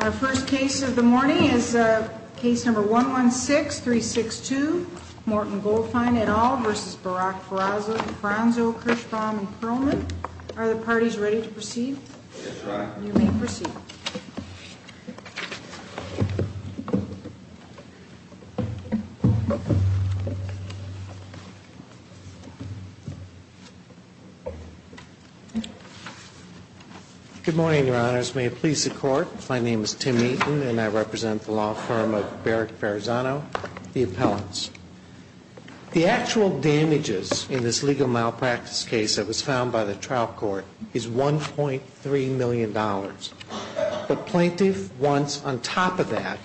Our first case of the morning is case number 116362, Morton Goldfine et al. v. Barak Ferrazzo and Ferrazzo, Kirschbaum and Perlman. Are the parties ready to proceed? Yes, Your Honor. You may proceed. Good morning, Your Honors. May it please the Court, my name is Tim Eaton and I represent the law firm of Barak Ferrazzo, the appellants. The actual damages in this legal malpractice case that was found by the trial court is $1.3 million. The plaintiff wants, on top of that,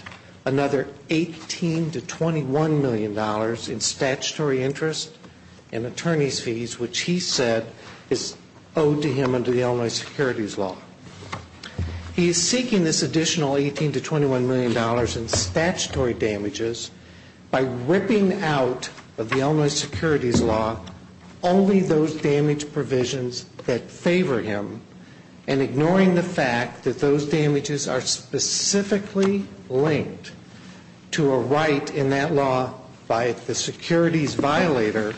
another $18 to $21 million in statutory interest and attorney's fees, which he said is owed to him under the Illinois securities law. He is seeking this additional $18 to $21 million in statutory damages by whipping out of the Illinois securities law only those damage provisions that favor him and ignoring the fact that those damages are specifically linked to a right in that law by the securities violator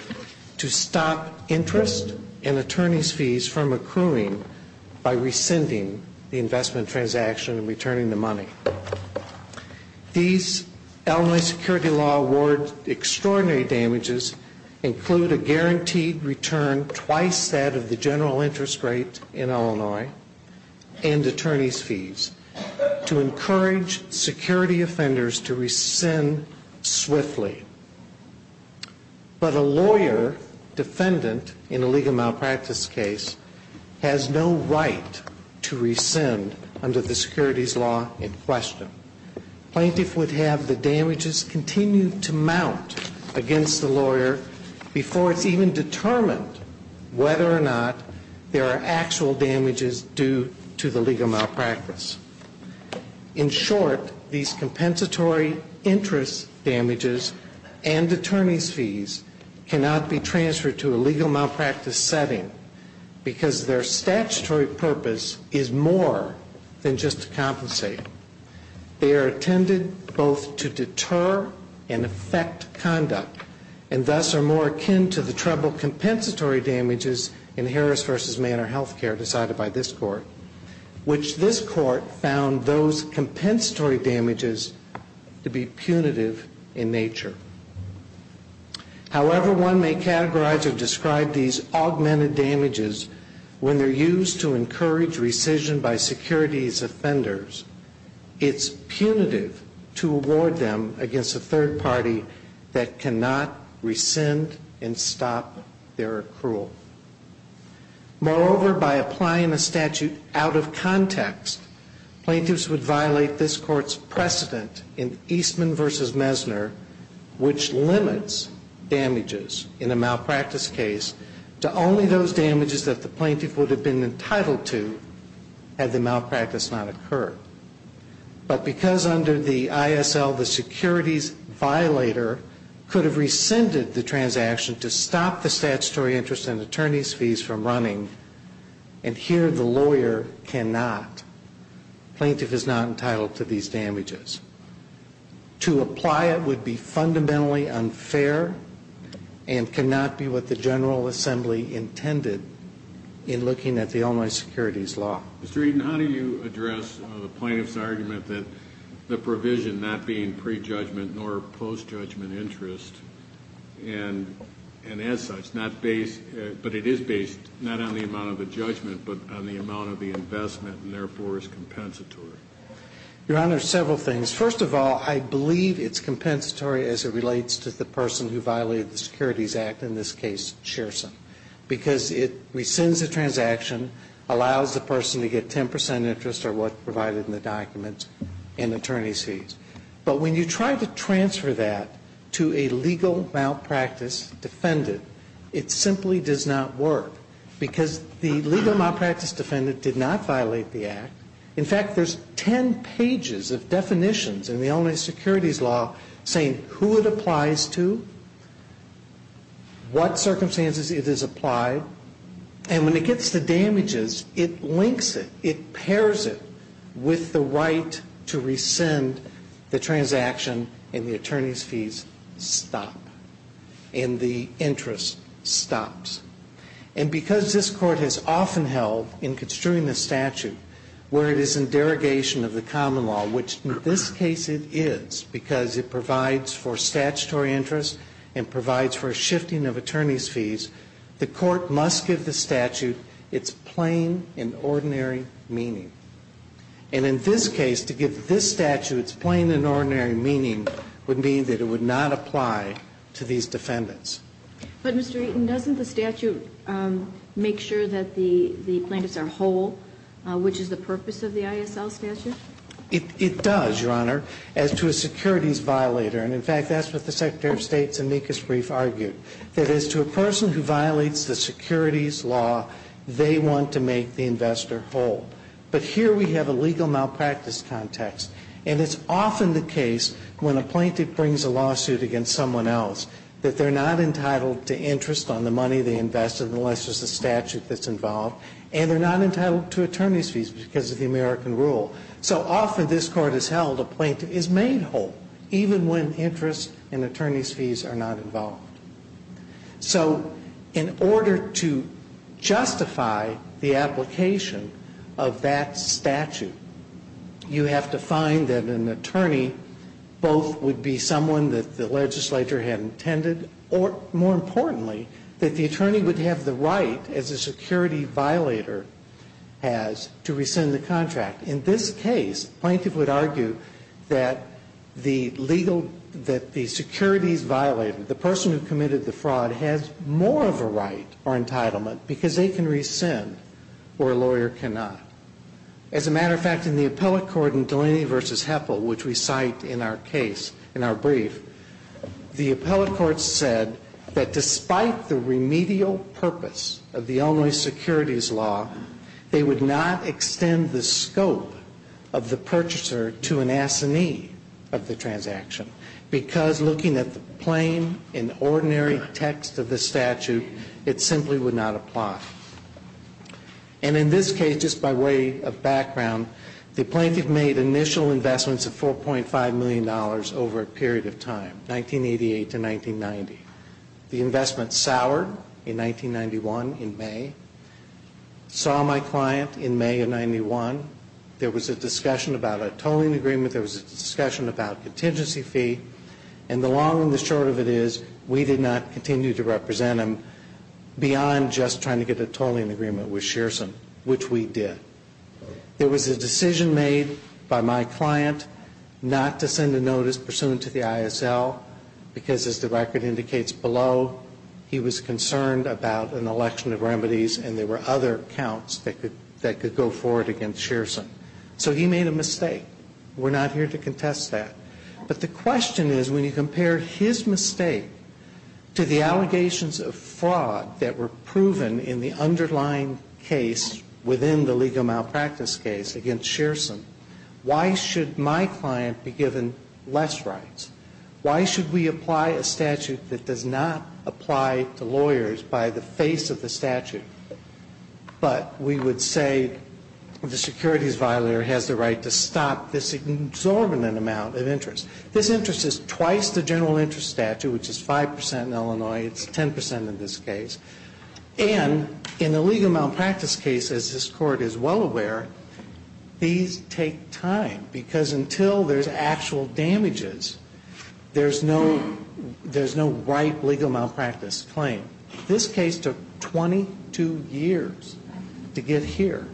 to stop interest and attorney's fees from accruing by rescinding the investment transaction and returning the money. These Illinois securities law award extraordinary damages include a guaranteed return twice that of the general interest rate in Illinois and attorney's fees to encourage security offenders to rescind swiftly. But a lawyer defendant in a legal malpractice case has no right to rescind under the securities law in question. Plaintiff would have the damages continue to mount against the lawyer before it's even determined whether or not there are actual damages due to the legal malpractice. In short, these compensatory interest damages and attorney's fees cannot be transferred to a legal malpractice setting because their statutory purpose is more than just to compensate. They are intended both to deter and affect conduct and thus are more akin to the treble compensatory damages in Harris v. Manor health care decided by this court, which this court found those compensatory damages to be punitive in nature. However, one may categorize or describe these augmented damages when they're used to encourage rescission by securities offenders, it's punitive to award them against a third party that cannot rescind and stop their accrual. Moreover, by applying a statute out of context, plaintiffs would violate this court's precedent in Eastman v. Mesner, which limits damages in a malpractice case to only those damages that the plaintiff would have been entitled to had the malpractice not occurred. But because under the ISL, the securities violator could have rescinded the transaction to stop the statutory interest and attorney's fees from running, and here the lawyer cannot, plaintiff is not entitled to these damages. To apply it would be fundamentally unfair and cannot be what the General Assembly intended in looking at the online securities law. Mr. Eaton, how do you address the plaintiff's argument that the provision not being prejudgment nor postjudgment interest and as such, not based, but it is based not on the amount of the judgment, but on the amount of the investment and therefore is compensatory? Your Honor, several things. First of all, I believe it's compensatory as it relates to the person who violated the Securities Act, in this case, Shearson. Because it rescinds the transaction, allows the person to get 10% interest or what's provided in the document and attorney's fees. But when you try to transfer that to a legal malpractice defendant, it simply does not work. Because the legal malpractice defendant did not violate the Act. In fact, there's 10 pages of definitions in the online securities law saying who it applies to, what circumstances it is applied, and when it gets to damages, it links it. It pairs it with the right to rescind the transaction and the attorney's fees stop and the interest stops. And because this Court has often held in construing the statute where it is in derogation of the common law, which in this case it is because it provides for statutory interest and provides for a shifting of attorney's fees, the Court must give the statute its plain and ordinary meaning. And in this case, to give this statute its plain and ordinary meaning would mean that it would not apply to these defendants. But, Mr. Eaton, doesn't the statute make sure that the plaintiffs are whole, which is the purpose of the ISL statute? It does, Your Honor, as to a securities violator. And, in fact, that's what the Secretary of State's amicus brief argued. That is, to a person who violates the securities law, they want to make the investor whole. But here we have a legal malpractice context. And it's often the case when a plaintiff brings a lawsuit against someone else that they're not entitled to interest on the money they invested unless there's a statute that's involved. And they're not entitled to attorney's fees because of the American rule. So often this Court has held a plaintiff is made whole, even when interest and attorney's fees are not involved. So in order to justify the application of that statute, you have to find that an attorney both would be someone that the legislature had intended or, more importantly, that the attorney would have the right, as a security violator has, to rescind the contract. In this case, a plaintiff would argue that the securities violator, the person who committed the fraud, has more of a right or entitlement because they can rescind where a lawyer cannot. As a matter of fact, in the appellate court in Delaney v. Heffel, which we cite in our brief, the appellate court said that despite the remedial purpose of the Illinois securities law, they would not extend the scope of the purchaser to an assignee of the transaction because looking at the plain and ordinary text of the statute, it simply would not apply. And in this case, just by way of background, the plaintiff made initial investments of $4.5 million over a period of time, 1988 to 1990. The investment soured in 1991, in May. Saw my client in May of 91. There was a discussion about a tolling agreement. There was a discussion about contingency fee. And the long and the short of it is we did not continue to represent him beyond just trying to get a tolling agreement with Shearson, which we did. There was a decision made by my client not to send a notice pursuant to the ISL because as the record indicates below, he was concerned about an election of remedies and there were other accounts that could go forward against Shearson. So he made a mistake. We're not here to contest that. But the question is when you compare his mistake to the allegations of fraud that were proven in the underlying case within the legal malpractice case against Shearson, why should my client be given less rights? Why should we apply a statute that does not apply to lawyers by the face of the statute? But we would say the securities violator has the right to stop this exorbitant amount of interest. This interest is twice the general interest statute, which is 5% in Illinois. It's 10% in this case. And in the legal malpractice case, as this Court is well aware, these take time. Because until there's actual damages, there's no right legal malpractice claim. This case took 22 years to get here.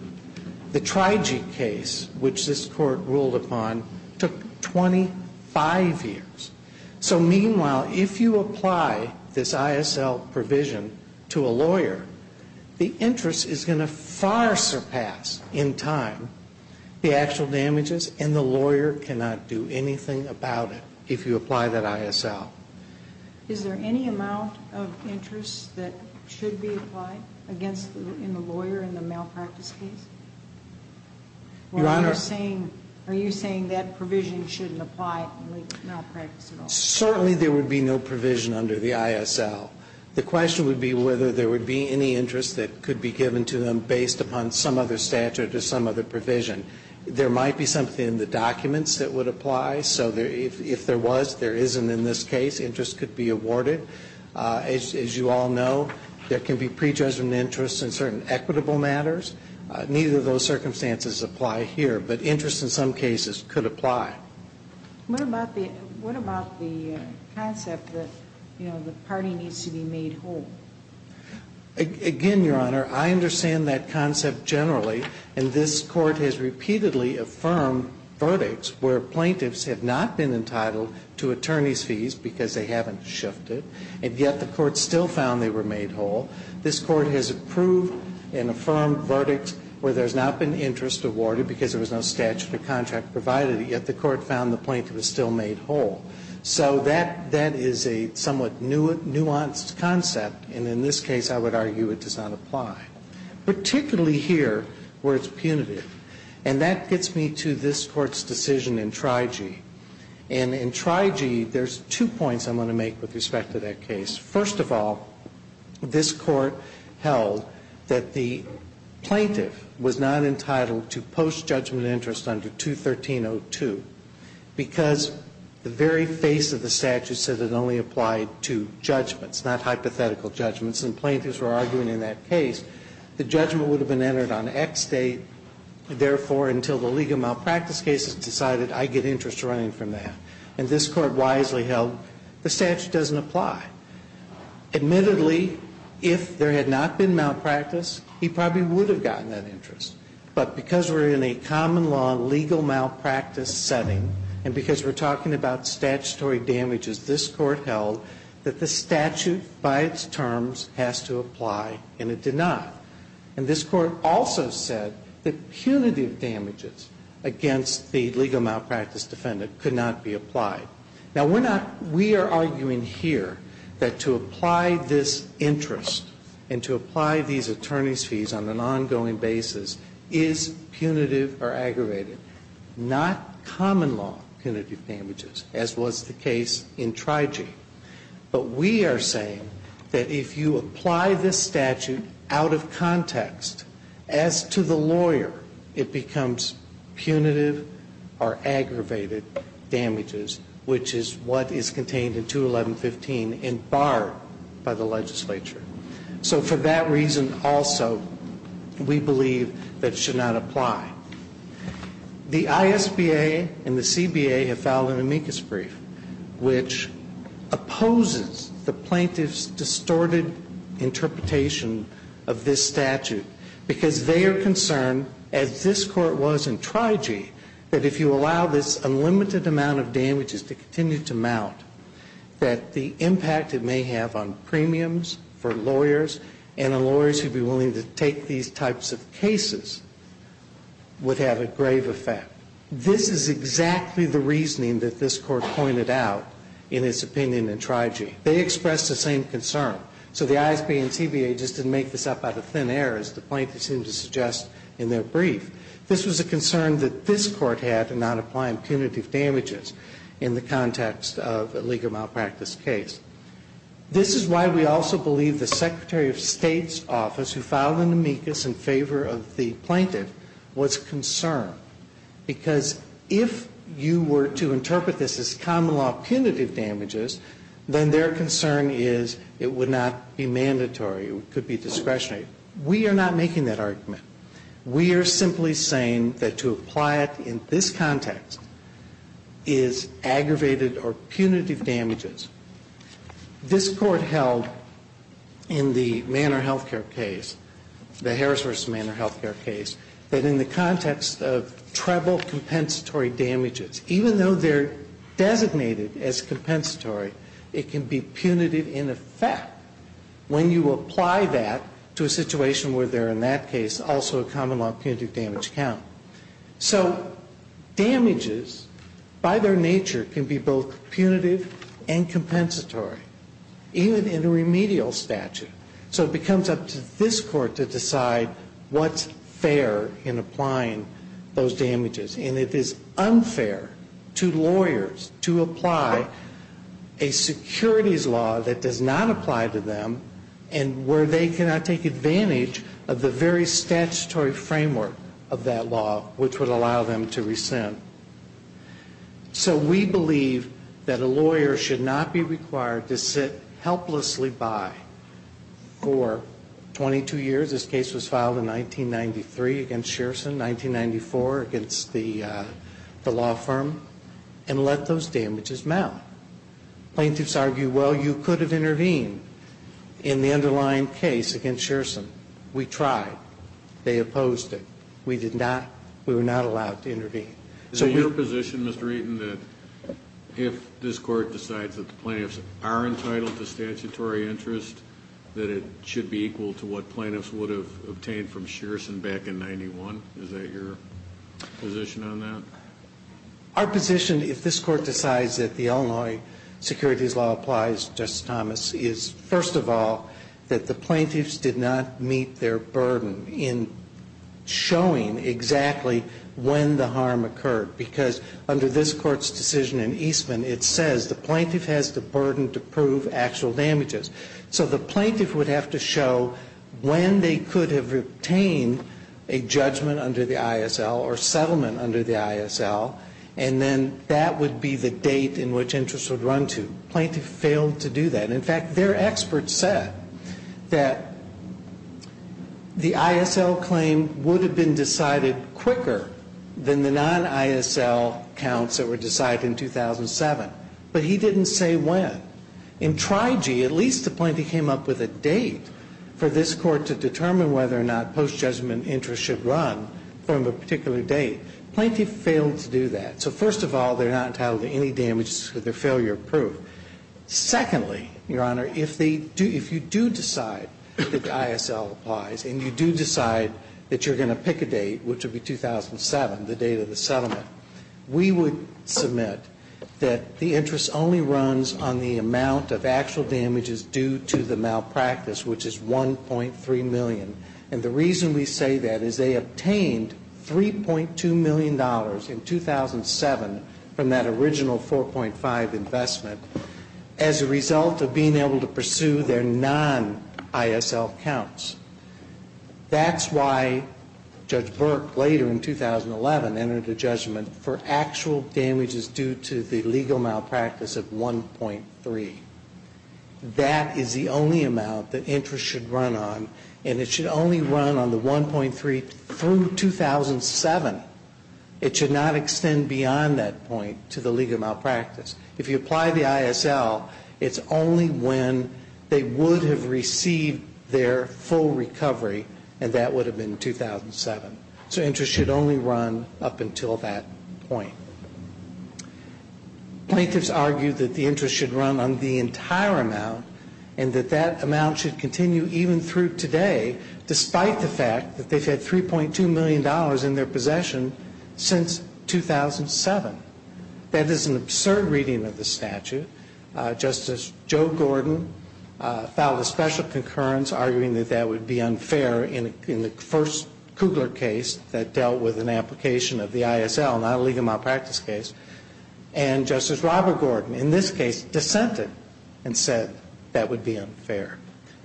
The Trijic case, which this Court ruled upon, took 25 years. So meanwhile, if you apply this ISL provision to a lawyer, the interest is going to far surpass in time the actual damages and the lawyer cannot do anything about it if you apply that ISL. Is there any amount of interest that should be applied against the lawyer in the malpractice case? Your Honor. Are you saying that provision shouldn't apply in legal malpractice at all? Certainly there would be no provision under the ISL. The question would be whether there would be any interest that could be given to them based upon some other statute or some other provision. There might be something in the documents that would apply. So if there was, there isn't in this case. Interest could be awarded. As you all know, there can be prejudgmental interest in certain equitable matters. Neither of those circumstances apply here. But interest in some cases could apply. What about the concept that, you know, the party needs to be made whole? Again, Your Honor, I understand that concept generally. And this Court has repeatedly affirmed verdicts where plaintiffs have not been entitled to attorney's fees because they haven't shifted. And yet the Court still found they were made whole. This Court has approved and affirmed verdicts where there's not been interest awarded because there was no statute or contract provided, yet the Court found the plaintiff was still made whole. So that is a somewhat nuanced concept. And in this case, I would argue it does not apply, particularly here where it's punitive. And that gets me to this Court's decision in Trigee. And in Trigee, there's two points I'm going to make with respect to that case. First of all, this Court held that the plaintiff was not entitled to post-judgment interest under 213.02 because the very face of the statute said it only applied to judgments, not hypothetical judgments. And plaintiffs were arguing in that case the judgment would have been entered on X date, therefore, until the legal malpractice cases decided I get interest running from that. And this Court wisely held the statute doesn't apply. Admittedly, if there had not been malpractice, he probably would have gotten that interest. But because we're in a common law legal malpractice setting and because we're talking about statutory damages, this Court held that the statute by its terms has to apply, and it did not. And this Court also said that punitive damages against the legal malpractice defendant could not be applied. Now, we're not we are arguing here that to apply this interest and to apply these attorneys' fees on an ongoing basis is punitive or aggravated, not common law punitive damages, as was the case in Trigee. But we are saying that if you apply this statute out of context as to the lawyer, it becomes punitive or aggravated damages, which is what is contained in 21115 and barred by the legislature. So for that reason also, we believe that it should not apply. The ISBA and the CBA have filed an amicus brief which opposes the plaintiff's distorted interpretation of this statute because they are concerned, as this Court was in Trigee, that if you allow this unlimited amount of damages to continue to mount, that the impact it may have on premiums for lawyers and on lawyers who would be willing to take these types of cases would have a grave effect. This is exactly the reasoning that this Court pointed out in its opinion in Trigee. They expressed the same concern. So the ISBA and CBA just didn't make this up out of thin air, as the plaintiffs seem to suggest in their brief. This was a concern that this Court had in not applying punitive damages in the context of a legal malpractice case. This is why we also believe the Secretary of State's office, who filed an amicus in favor of the plaintiff, was concerned. Because if you were to interpret this as common law punitive damages, then their concern is it would not be mandatory, it could be discretionary. We are not making that argument. We are simply saying that to apply it in this context is aggravated or punitive damages. This Court held in the Manor Health Care case, the Harris v. Manor Health Care case, that in the context of treble compensatory damages, even though they're designated as compensatory, it can be punitive in effect when you apply that to a situation where they're, in that case, also a common law punitive damage count. So damages, by their nature, can be both punitive and compensatory, even in a remedial statute. So it becomes up to this Court to decide what's fair in applying those damages. And it is unfair to lawyers to apply a securities law that does not apply to them and where they cannot take advantage of the very statutory framework of that law, which would allow them to rescind. So we believe that a lawyer should not be required to sit helplessly by for 22 years. This case was filed in 1993 against Shearson, 1994 against the law firm, and let those damages mount. Plaintiffs argue, well, you could have intervened in the underlying case against Shearson. We tried. They opposed it. We did not. We were not allowed to intervene. Is it your position, Mr. Eaton, that if this Court decides that the plaintiffs are entitled to statutory interest, that it should be equal to what plaintiffs would have obtained from Shearson back in 91? Is that your position on that? Our position, if this Court decides that the Illinois securities law applies, Justice Thomas, is, first of all, that the plaintiffs did not meet their burden in showing exactly when the harm occurred. Because under this Court's decision in Eastman, it says the plaintiff has the burden to prove actual damages. So the plaintiff would have to show when they could have obtained a judgment under the ISL or settlement under the ISL, and then that would be the date in which interest would run to. The plaintiff failed to do that. In fact, their experts said that the ISL claim would have been decided quicker than the non-ISL counts that were decided in 2007. But he didn't say when. In Trigee, at least the plaintiff came up with a date for this Court to determine whether or not post-judgment interest should run from a particular date. The plaintiff failed to do that. So, first of all, they're not entitled to any damage with their failure of proof. Secondly, Your Honor, if they do – if you do decide that the ISL applies and you do decide that you're going to pick a date, which would be 2007, the date of the settlement, we would submit that the interest only runs on the amount of actual damages due to the And the reason we say that is they obtained $3.2 million in 2007 from that original 4.5 investment as a result of being able to pursue their non-ISL counts. That's why Judge Burke later in 2011 entered a judgment for actual damages due to the legal malpractice of 1.3. That is the only amount that interest should run on, and it should only run on the 1.3 through 2007. It should not extend beyond that point to the legal malpractice. If you apply the ISL, it's only when they would have received their full recovery, and that would have been 2007. So interest should only run up until that point. Plaintiffs argue that the interest should run on the entire amount, and that that amount should continue even through today, despite the fact that they've had $3.2 million in their possession since 2007. That is an absurd reading of the statute. Justice Joe Gordon filed a special concurrence arguing that that would be unfair in the first Kugler case that dealt with an application of the ISL, not a legal malpractice case. And Justice Robert Gordon in this case dissented and said that would be unfair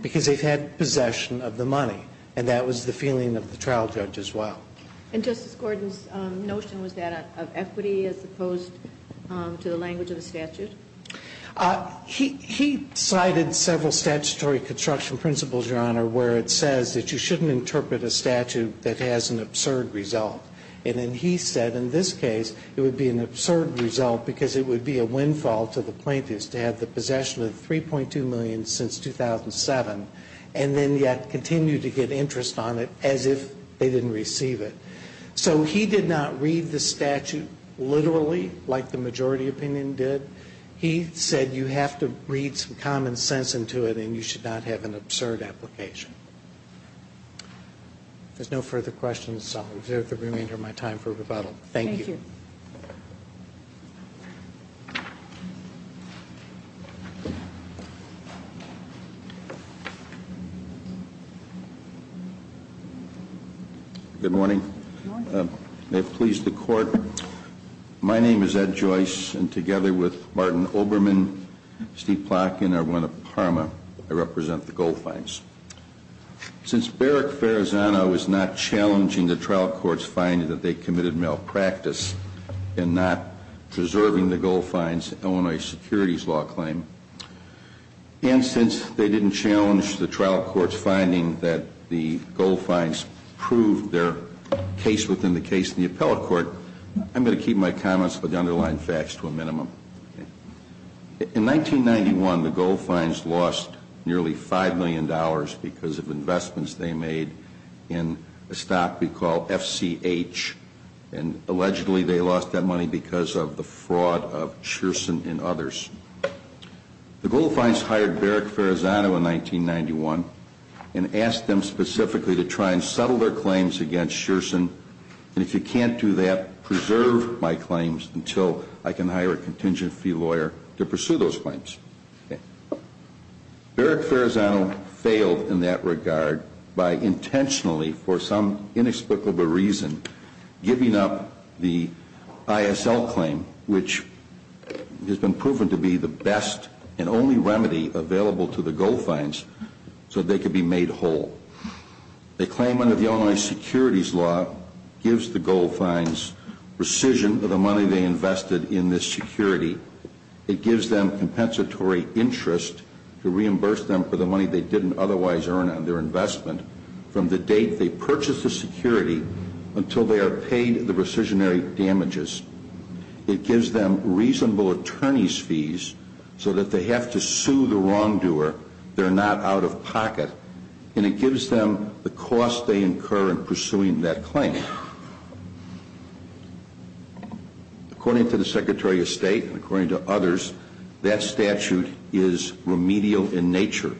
because they've had possession of the money, and that was the feeling of the trial judge as well. And Justice Gordon's notion was that of equity as opposed to the language of the statute? He cited several statutory construction principles, Your Honor, where it says that you shouldn't interpret a statute that has an absurd result. And then he said in this case it would be an absurd result because it would be a windfall to the plaintiffs to have the possession of $3.2 million since 2007, and then yet continue to get interest on it as if they didn't receive it. So he did not read the statute literally like the majority opinion did. He said you have to read some common sense into it, and you should not have an absurd application. If there's no further questions, I'll reserve the remainder of my time for rebuttal. Thank you. Thank you. Good morning. Good morning. May it please the Court, my name is Ed Joyce, and together with Martin Oberman, Steve Since Barrick Farazana was not challenging the trial court's finding that they committed malpractice in not preserving the Goldfines' Illinois securities law claim, and since they didn't challenge the trial court's finding that the Goldfines proved their case within the case in the appellate court, I'm going to keep my comments for the underlying facts to a minimum. In 1991, the Goldfines lost nearly $5 million because of investments they made in a stock we call FCH, and allegedly they lost that money because of the fraud of Sherson and others. The Goldfines hired Barrick Farazana in 1991 and asked them specifically to try and settle their claims against Sherson, and if you can't do that, preserve my claims until I can hire a contingent fee lawyer to pursue those claims. Barrick Farazana failed in that regard by intentionally, for some inexplicable reason, giving up the ISL claim, which has been proven to be the best and only remedy available to the Goldfines, so they could be made whole. The claim under the Illinois securities law gives the Goldfines rescission of the money they invested in this security. It gives them compensatory interest to reimburse them for the money they didn't otherwise earn on their investment from the date they purchased the security until they are paid the rescissionary damages. It gives them reasonable attorney's fees so that they have to sue the wrongdoer they're not out of pocket, and it gives them the cost they incur in pursuing that claim. According to the Secretary of State and according to others, that statute is remedial in nature.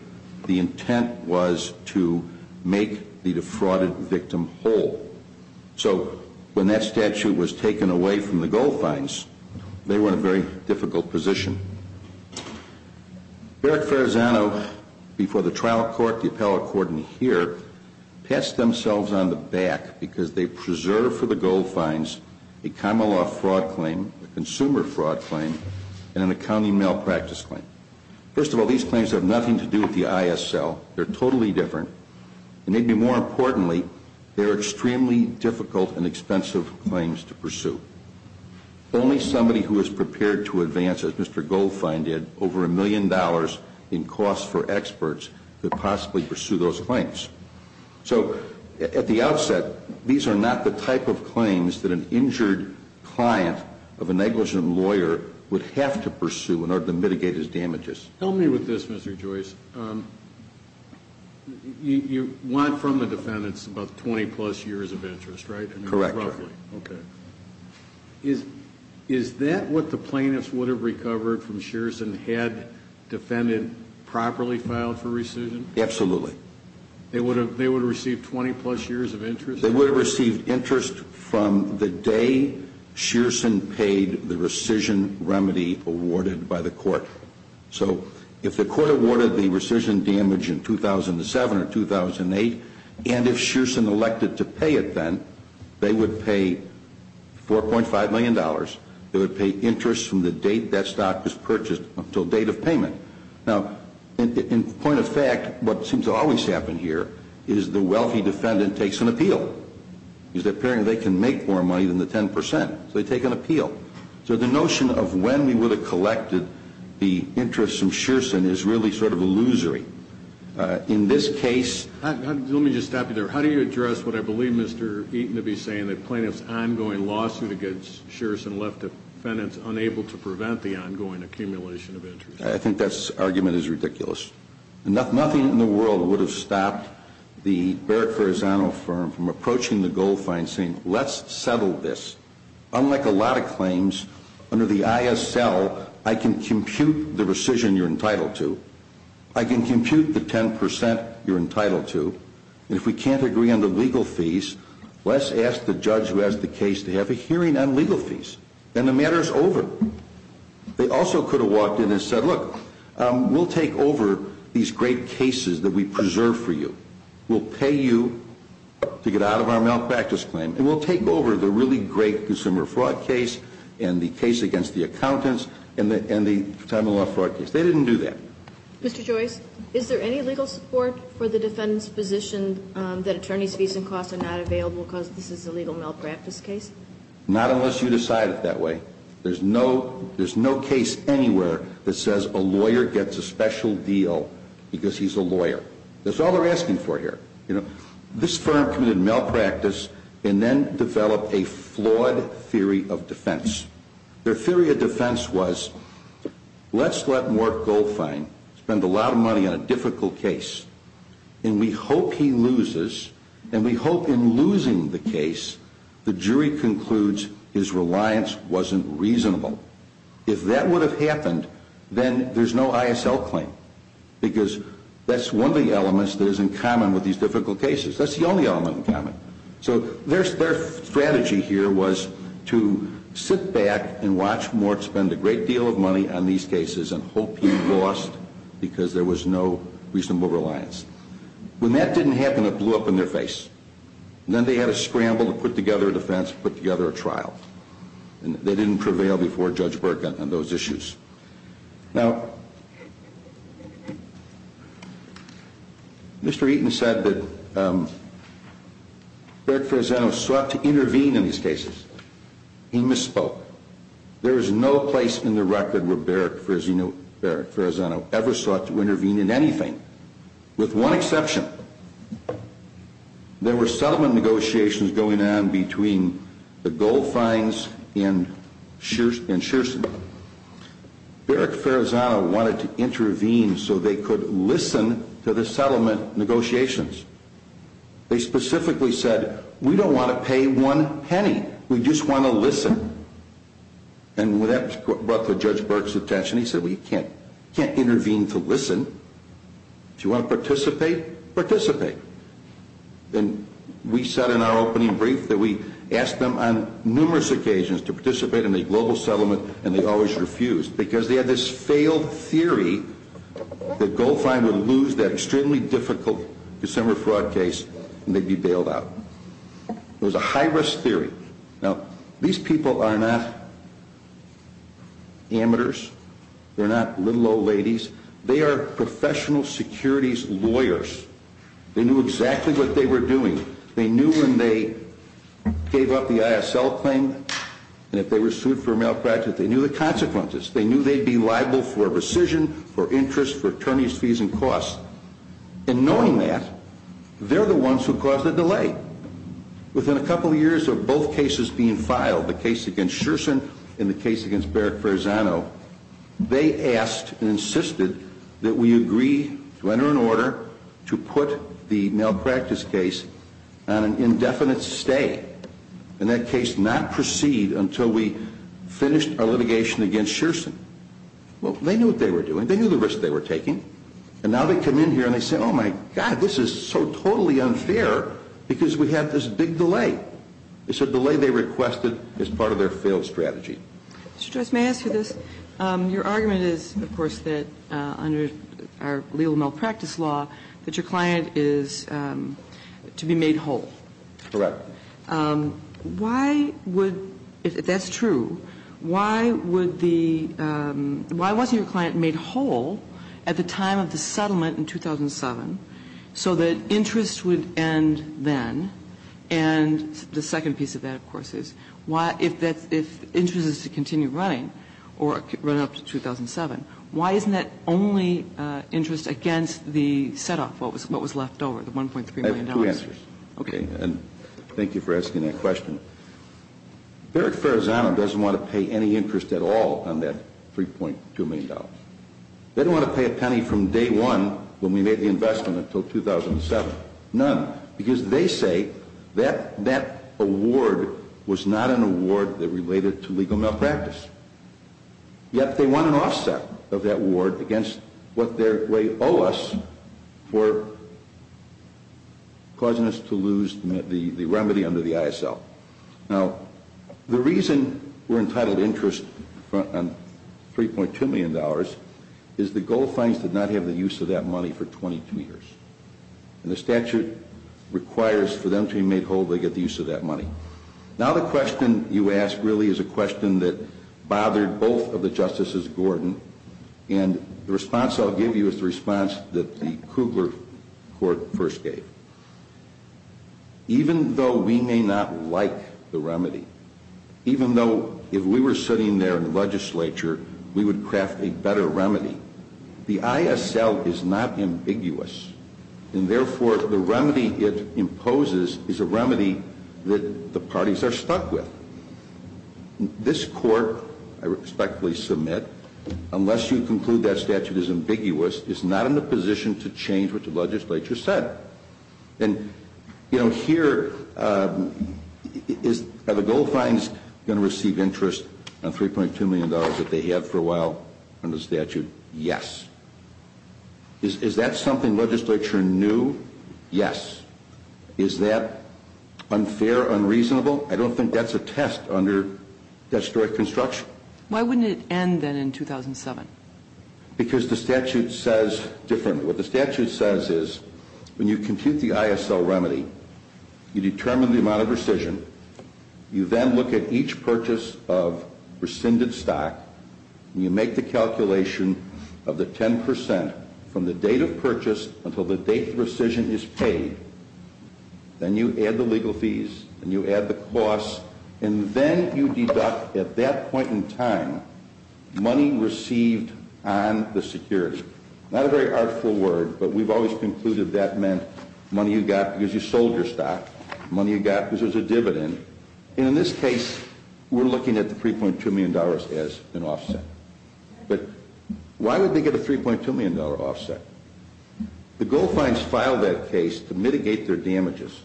The intent was to make the defrauded victim whole, so when that statute was taken away from the Goldfines, they were in a very difficult position. Barrick Farazana, before the trial court, the appellate court, and here, passed themselves on the back because they preserved for the Goldfines a common law fraud claim, a consumer fraud claim, and an accounting malpractice claim. First of all, these claims have nothing to do with the ISL. They're totally different. And maybe more importantly, they're extremely difficult and expensive claims to pursue. Only somebody who is prepared to advance, as Mr. Goldfine did, over a million dollars in costs for experts could possibly pursue those claims. So, at the outset, these are not the type of claims that an injured client of a negligent lawyer would have to pursue in order to mitigate his damages. Help me with this, Mr. Joyce. You want from the defendants about 20-plus years of interest, right? Correct. Okay. Is that what the plaintiffs would have recovered from Sherrison had the defendant properly filed for rescission? Absolutely. They would have received 20-plus years of interest? They would have received interest from the day Sherrison paid the rescission remedy awarded by the court. So, if the court awarded the rescission damage in 2007 or 2008, and if Sherrison elected to pay it then, they would pay $4.5 million. They would pay interest from the date that stock was purchased until date of payment. Now, in point of fact, what seems to always happen here is the wealthy defendant takes an appeal. It's appearing they can make more money than the 10%. So, they take an appeal. So, the notion of when we would have collected the interest from Sherrison is really sort of illusory. In this case... Let me just stop you there. How do you address what I believe Mr. Eaton to be saying, that plaintiffs' ongoing lawsuit against Sherrison left defendants unable to prevent the ongoing accumulation of interest? I think that argument is ridiculous. Nothing in the world would have stopped the Barrett-Ferrazano firm from approaching the gold fine saying, let's settle this. Unlike a lot of claims, under the ISL, I can compute the rescission you're entitled to. I can compute the 10% you're entitled to. If we can't agree on the legal fees, let's ask the judge who has the case to have a hearing on legal fees. Then the matter is over. They also could have walked in and said, look, we'll take over these great cases that we preserve for you. We'll pay you to get out of our malpractice claim, and we'll take over the really great consumer fraud case, and the case against the accountants, and the time of the law fraud case. They didn't do that. Mr. Joyce, is there any legal support for the defendant's position that attorney's fees and costs are not available because this is a legal malpractice case? Not unless you decide it that way. There's no case anywhere that says a lawyer gets a special deal because he's a lawyer. That's all they're asking for here. This firm committed malpractice and then developed a flawed theory of defense. Their theory of defense was, let's let Mark Goldfein spend a lot of money on a difficult case, and we hope he loses, and we hope in losing the case, the jury concludes his reliance wasn't reasonable. If that would have happened, then there's no ISL claim because that's one of the elements that is in common with these difficult cases. That's the only element in common. So their strategy here was to sit back and watch Mark spend a great deal of money on these cases and hope he lost because there was no reasonable reliance. When that didn't happen, it blew up in their face. Then they had a scramble to put together a defense and put together a trial. They didn't prevail before Judge Burke on those issues. Now, Mr. Eaton said that Beric Ferrazzano sought to intervene in these cases. He misspoke. There is no place in the record where Beric Ferrazzano ever sought to intervene in anything with one exception. There were settlement negotiations going on between the Goldfeins and Shearson. Beric Ferrazzano wanted to intervene so they could listen to the settlement negotiations. They specifically said, we don't want to pay one penny. We just want to listen. And that brought to Judge Burke's attention. He said, well, you can't intervene to listen. If you want to participate, participate. And we said in our opening brief that we asked them on numerous occasions to participate in a global settlement and they always refused because they had this failed theory that Goldfein would lose that extremely difficult December fraud case and they'd be bailed out. It was a high-risk theory. Now, these people are not amateurs. They're not little old ladies. They are professional securities lawyers. They knew exactly what they were doing. They knew when they gave up the ISL claim and if they were sued for malpractice, they knew the consequences. They knew they'd be liable for rescission, for interest, for attorney's fees and costs. And knowing that, they're the ones who caused the delay. Within a couple of years of both cases being filed, the case against Shearson and the case against Beric Ferrazzano, they asked and insisted that we agree to enter an order to put the malpractice case on an indefinite stay. And that case not proceed until we finished our litigation against Shearson. Well, they knew what they were doing. They knew the risk they were taking. And now they come in here and they say, oh my God, this is so totally unfair because we have this big delay. It's a delay they requested as part of their failed strategy. Mr. Joyce, may I ask you this? Your argument is, of course, that under our legal malpractice law, that your client is to be made whole. Correct. Why would, if that's true, why would the, why wasn't your client made whole at the time of the settlement in 2007 so that interest would end then? And the second piece of that, of course, is why, if interest is to continue running or run up to 2007, why isn't that only interest against the set-off, what was left over, the $1.3 million? I have two answers. Okay. And thank you for asking that question. Beric Ferrazzano doesn't want to pay any interest at all on that $3.2 million. They don't want to pay a penny from day one when we made the investment until 2007. None. Because they say that that award was not an award that related to legal malpractice. Yet they want an offset of that award against what they owe us for causing us to lose the remedy under the ISL. Now, the reason we're entitled to interest on $3.2 million is the gold fines did not have the use of that money for 22 years. And the statute requires for them to be made whole if they get the use of that money. Now, the question you ask really is a question that bothered both of the Justices Gordon. And the response I'll give you is the response that the Kugler Court first gave. Even though we may not like the remedy, even though if we were sitting there in the legislature, we would craft a better remedy. The ISL is not ambiguous. And therefore, the remedy it imposes is a remedy that the parties are stuck with. This Court, I respectfully submit, unless you conclude that statute is ambiguous, is not in a position to change what the legislature said. And, you know, here, are the gold fines going to receive interest on $3.2 million that they have for a while under the statute? Yes. Is that something legislature knew? Yes. Is that unfair, unreasonable? I don't think that's a test under statutory construction. Why wouldn't it end then in 2007? Because the statute says differently. What the statute says is when you compute the ISL remedy, you determine the amount of purchase of rescinded stock, and you make the calculation of the 10% from the date of purchase until the date of rescission is paid, then you add the legal fees, and you add the costs, and then you deduct at that point in time money received on the securities. Not a very artful word, but we've always concluded that meant money you got because you sold your stock, money you got because there's a dividend. And in this case, we're looking at the $3.2 million as an offset. But why would they get a $3.2 million offset? The gold fines filed that case to mitigate their damages.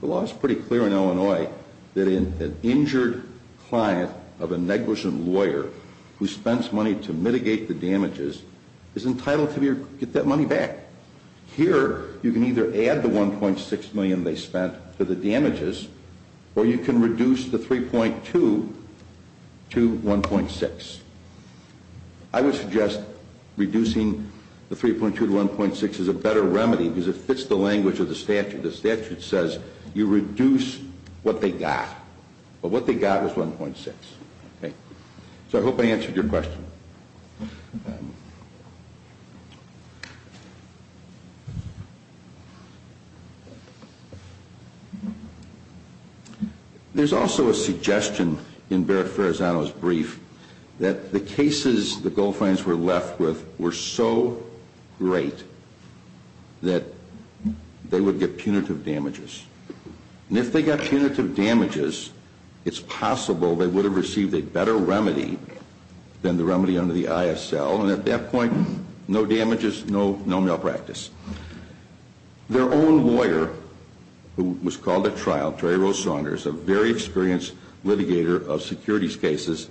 The law is pretty clear in Illinois that an injured client of a negligent lawyer who spends money to mitigate the damages is entitled to get that money back. Here, you can either add the $1.6 million they spent to the damages, or you can reduce the $3.2 to $1.6. I would suggest reducing the $3.2 to $1.6 is a better remedy because it fits the language of the statute. The statute says you reduce what they got, but what they got was $1.6. So I hope I answered your question. There's also a suggestion in Barrett-Ferrazano's brief that the cases the gold fines were left with were so great that they would get punitive damages. And if they got punitive damages, it's possible they would have received a better remedy than the remedy under the ISL. And at that point, no damages, no malpractice. Their own lawyer, who was called at trial, Terry Rose Saunders, a very experienced litigator of securities cases,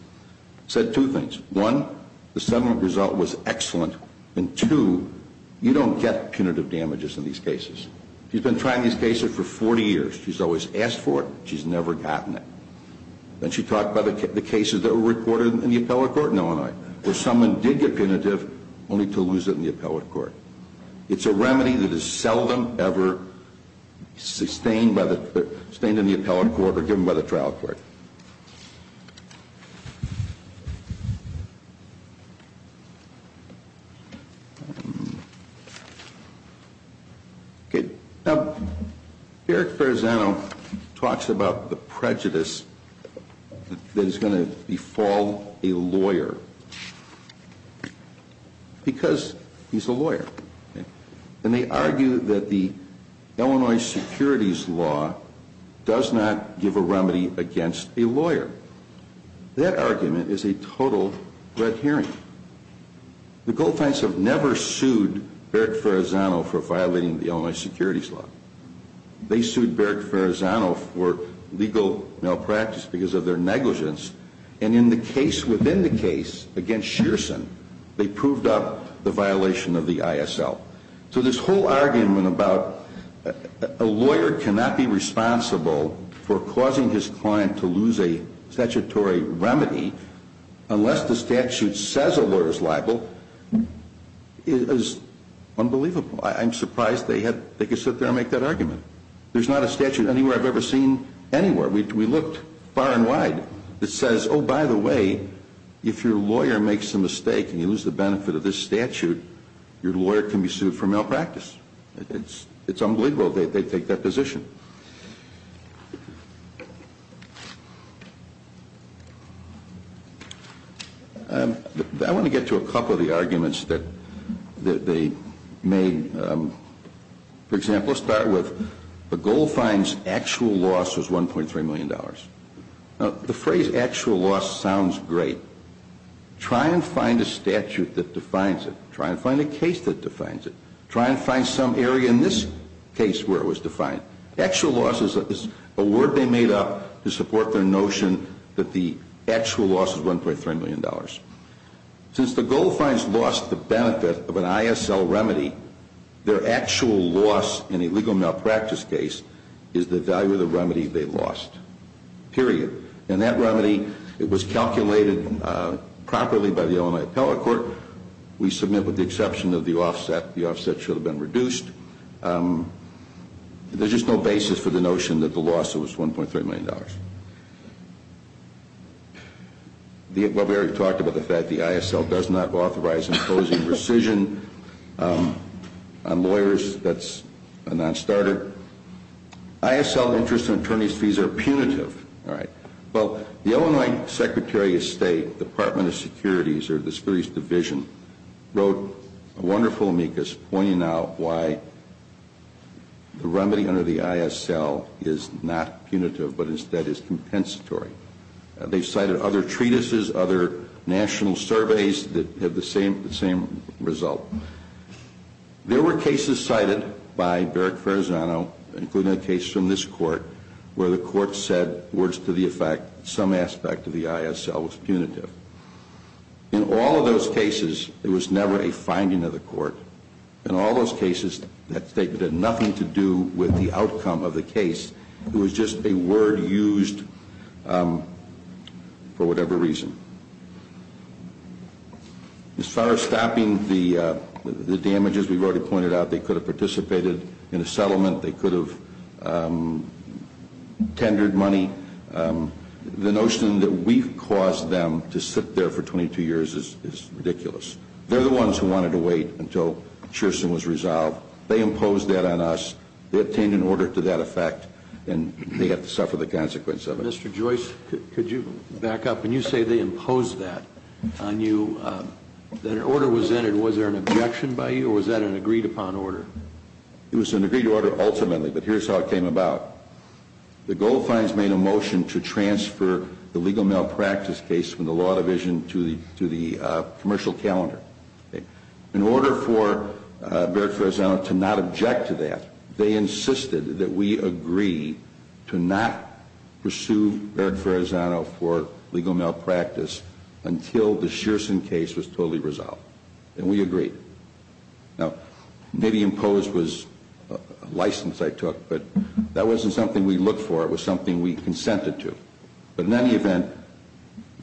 said two things. One, the settlement result was excellent. And two, you don't get punitive damages in these cases. She's been trying these cases for 40 years. She's always asked for it. She's never gotten it. Then she talked about the cases that were reported in the appellate court in Illinois, where someone did get punitive, only to lose it in the appellate court. It's a remedy that is seldom ever sustained in the appellate court or given by the trial court. Okay. Now, Eric Barzano talks about the prejudice that is going to befall a lawyer because he's a lawyer. And they argue that the Illinois securities law does not give a remedy against a lawyer. Their argument is a total red herring. The Goldfinns have never sued Eric Barzano for violating the Illinois securities law. They sued Eric Barzano for legal malpractice because of their negligence. And in the case within the case against Shearson, they proved up the violation of the ISL. So this whole argument about a lawyer cannot be responsible for causing his client to lose a statutory remedy unless the statute says a lawyer is liable is unbelievable. I'm surprised they could sit there and make that argument. There's not a statute anywhere I've ever seen anywhere. We looked far and wide. It says, oh, by the way, if your lawyer makes a mistake and you lose the benefit of this statute, your lawyer can be sued for malpractice. It's unbelievable they take that position. I want to get to a couple of the arguments that they made. For example, let's start with the Goldfinns' actual loss was $1.3 million. Now, the phrase actual loss sounds great. Try and find a statute that defines it. Try and find a case that defines it. Try and find some area in this case where it was defined. Actual loss is a word they made up to support their notion that the actual loss is $1.3 million. Since the Goldfinns lost the benefit of an ISL remedy, their actual loss in a legal malpractice case is the value of the remedy they lost, period. And that remedy, it was calculated properly by the Illinois Appellate Court. We submit with the exception of the offset. The offset should have been reduced. There's just no basis for the notion that the loss was $1.3 million. Well, we already talked about the fact the ISL does not authorize imposing rescission on lawyers. That's a non-starter. ISL interest and attorney's fees are punitive. All right. Well, the Illinois Secretary of State, Department of Securities, or the Securities Division, wrote a wonderful amicus pointing out why the remedy under the ISL is not punitive but instead is compensatory. They've cited other treatises, other national surveys that have the same result. There were cases cited by Barrick Farazano, including a case from this court, where the court said, words to the effect, some aspect of the ISL was punitive. In all of those cases, it was never a finding of the court. In all those cases, that statement had nothing to do with the outcome of the case. It was just a word used for whatever reason. As far as stopping the damage, as we've already pointed out, they could have participated in a settlement. They could have tendered money. The notion that we've caused them to sit there for 22 years is ridiculous. They're the ones who wanted to wait until Churston was resolved. They imposed that on us. They obtained an order to that effect, and they have to suffer the consequence of it. Mr. Joyce, could you back up? When you say they imposed that on you, that an order was entered, was there an objection by you, or was that an agreed-upon order? It was an agreed order ultimately, but here's how it came about. The gold fines made a motion to transfer the legal malpractice case from the law division to the commercial calendar. In order for Barrett-Ferrazano to not object to that, they insisted that we agree to not pursue Barrett-Ferrazano for legal malpractice until the Churston case was totally resolved, and we agreed. Now, maybe imposed was a license I took, but that wasn't something we looked for. It was something we consented to. But in any event,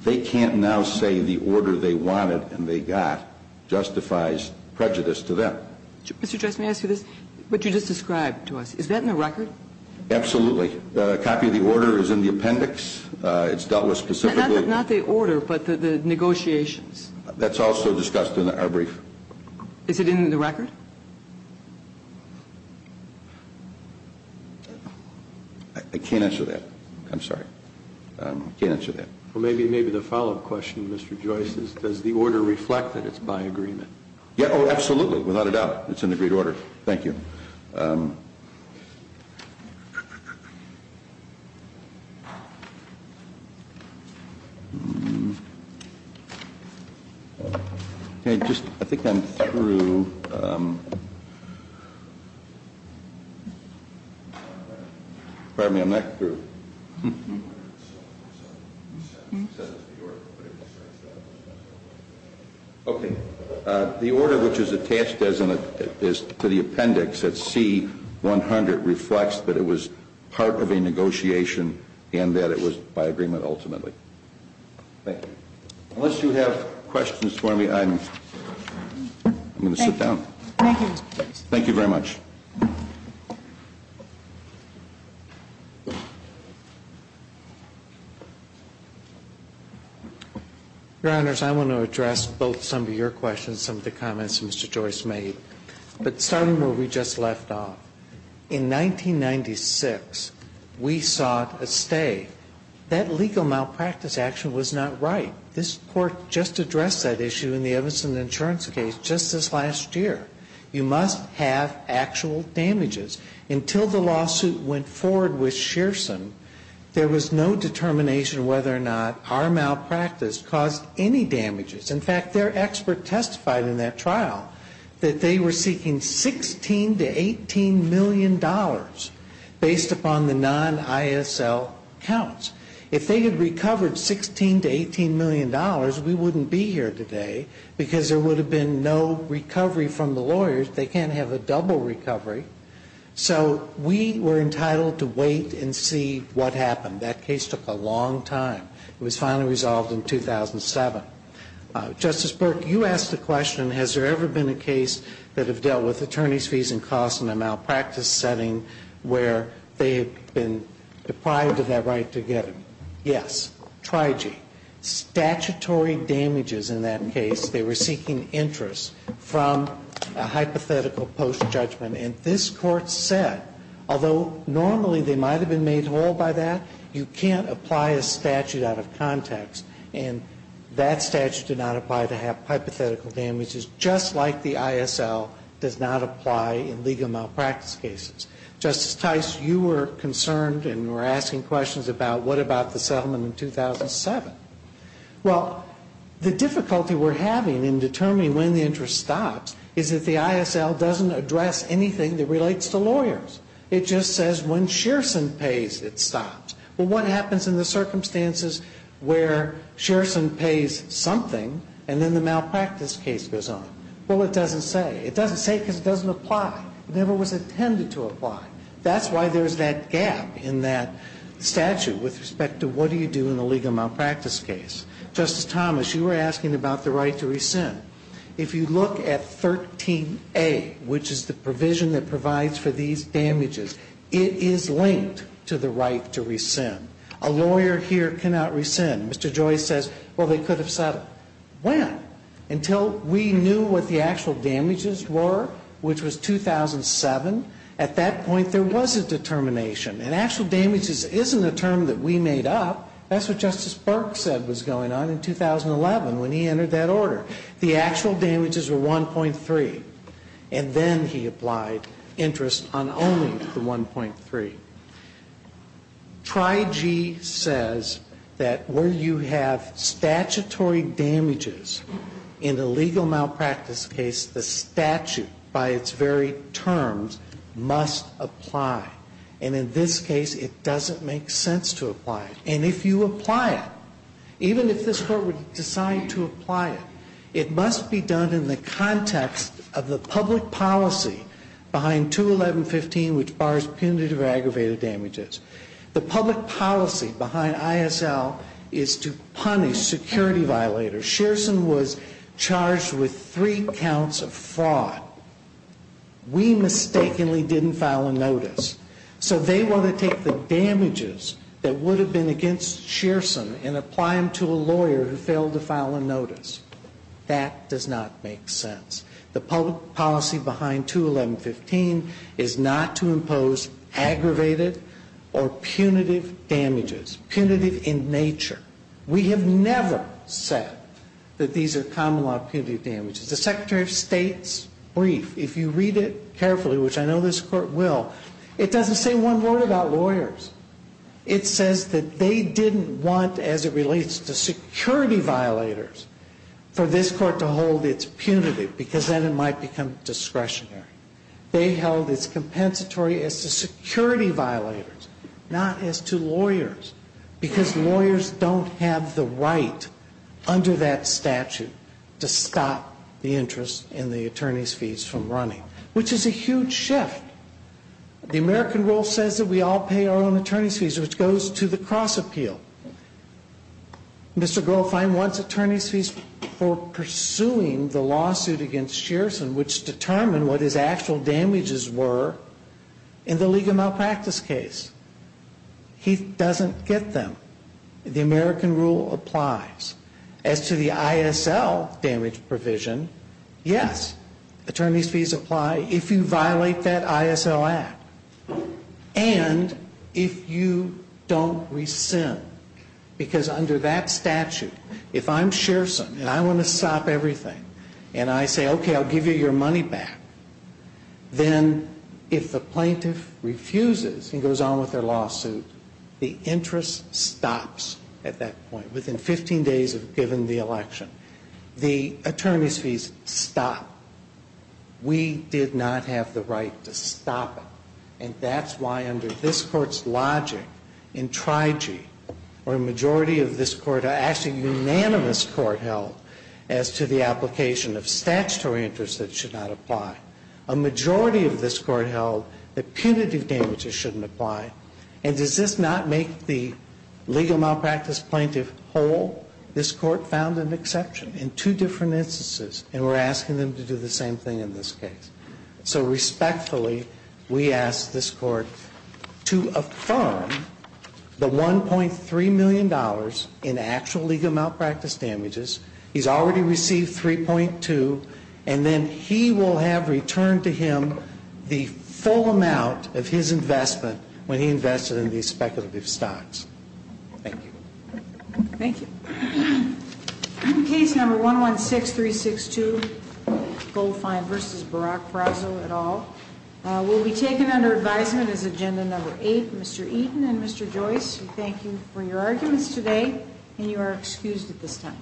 they can't now say the order they wanted and they got justifies prejudice to them. Mr. Joyce, may I ask you this? What you just described to us, is that in the record? Absolutely. A copy of the order is in the appendix. It's dealt with specifically. Not the order, but the negotiations. That's also discussed in our brief. Is it in the record? I can't answer that. I'm sorry. I can't answer that. Well, maybe the follow-up question, Mr. Joyce, is does the order reflect that it's by agreement? Oh, absolutely. Without a doubt. It's in the agreed order. Thank you. Okay. I think I'm through. Pardon me. I'm not through. Okay. The order which is attached to the appendix at C-100 reflects that it was part of a negotiation and that it was by agreement ultimately. Thank you. Unless you have questions for me, I'm going to sit down. Thank you, Mr. Joyce. Thank you very much. Your Honors, I want to address both some of your questions and some of the comments that Mr. Joyce made. But starting where we just left off, in 1996, we sought a stay. That legal malpractice action was not right. This Court just addressed that issue in the Evanson insurance case just this last year. You must have access to a stay. Until the lawsuit went forward with Shearson, there was no determination whether or not our malpractice caused any damages. In fact, their expert testified in that trial that they were seeking $16 to $18 million based upon the non-ISL counts. If they had recovered $16 to $18 million, we wouldn't be here today because there would have been no recovery from the lawyers. They can't have a double recovery. So we were entitled to wait and see what happened. That case took a long time. It was finally resolved in 2007. Justice Burke, you asked the question, has there ever been a case that have dealt with attorney's fees and costs in a malpractice setting where they have been deprived of that right to get it? Yes. Trigy. The court said in that case that they were seeking statutory damages. They were seeking interests from a hypothetical post-judgment. And this Court said, although normally they might have been made whole by that, you can't apply a statute out of context. And that statute did not apply to have hypothetical damages just like the ISL does not apply in legal malpractice cases. Justice Tice, you were concerned and were asking questions about what about the settlement in 2007. Well, the difficulty we're having in determining when the interest stops is that the ISL doesn't address anything that relates to lawyers. It just says when Shearson pays, it stops. Well, what happens in the circumstances where Shearson pays something and then the malpractice case goes on? Well, it doesn't say. It doesn't say because it doesn't apply. It never was intended to apply. That's why there's that gap in that statute with respect to what do you do in a legal malpractice case. Justice Thomas, you were asking about the right to rescind. If you look at 13A, which is the provision that provides for these damages, it is linked to the right to rescind. A lawyer here cannot rescind. Mr. Joyce says, well, they could have settled. When? Until we knew what the actual damages were, which was 2007. At that point, there was a determination. And actual damages isn't a term that we made up. That's what Justice Burke said was going on in 2011 when he entered that order. The actual damages were 1.3. And then he applied interest on only the 1.3. Now, in this case, Tri-G says that where you have statutory damages in a legal malpractice case, the statute, by its very terms, must apply. And in this case, it doesn't make sense to apply. And if you apply it, even if this Court would decide to apply it, it must be done in the context of the public policy behind 211.15, which bars punitive or aggravated damages. The public policy behind ISL is to punish security violators. Shearson was charged with three counts of fraud. We mistakenly didn't file a notice. So they want to take the damages that would have been against Shearson and apply them to a lawyer who failed to file a notice. That does not make sense. The public policy behind 211.15 is not to impose aggravated or punitive damages, punitive in nature. We have never said that these are common law punitive damages. The Secretary of State's brief, if you read it carefully, which I know this Court will, it doesn't say one word about lawyers. It says that they didn't want, as it relates to security violators, for this Court to hold its punitive, because then it might become discretionary. They held its compensatory as to security violators, not as to lawyers. Because lawyers don't have the right under that statute to stop the interest in the attorney's fees from running, which is a huge shift. The American rule says that we all pay our own attorney's fees, which goes to the cross appeal. Mr. Grofheim wants attorney's fees for pursuing the lawsuit against Shearson, which determined what his actual damages were in the legal malpractice case. He doesn't get them. The American rule applies. As to the ISL damage provision, yes, attorney's fees apply. If you violate that ISL Act, and if you don't rescind, because under that statute, if I'm Shearson and I want to stop everything, and I say, okay, I'll give you your money back, then if the plaintiff refuses and goes on with their lawsuit, the interest stops at that point. Within 15 days of giving the election, the attorney's fees stop. We did not have the right to stop it. And that's why under this Court's logic, in TRIG or a majority of this Court, actually a unanimous Court held as to the application of statutory interest that should not apply, a majority of this Court held that punitive damages shouldn't apply. And does this not make the legal malpractice plaintiff whole? This Court found an exception in two different instances, and we're asking them to do the same thing in this case. So respectfully, we ask this Court to affirm the $1.3 million in actual legal malpractice damages. He's already received 3.2, and then he will have returned to him the full amount of his investment when he invested in these speculative stocks. Thank you. Thank you. Case number 116362, Goldfine v. Barack Frazzo et al. Will be taken under advisement as agenda number 8. Mr. Eaton and Mr. Joyce, we thank you for your arguments today, and you are excused at this time.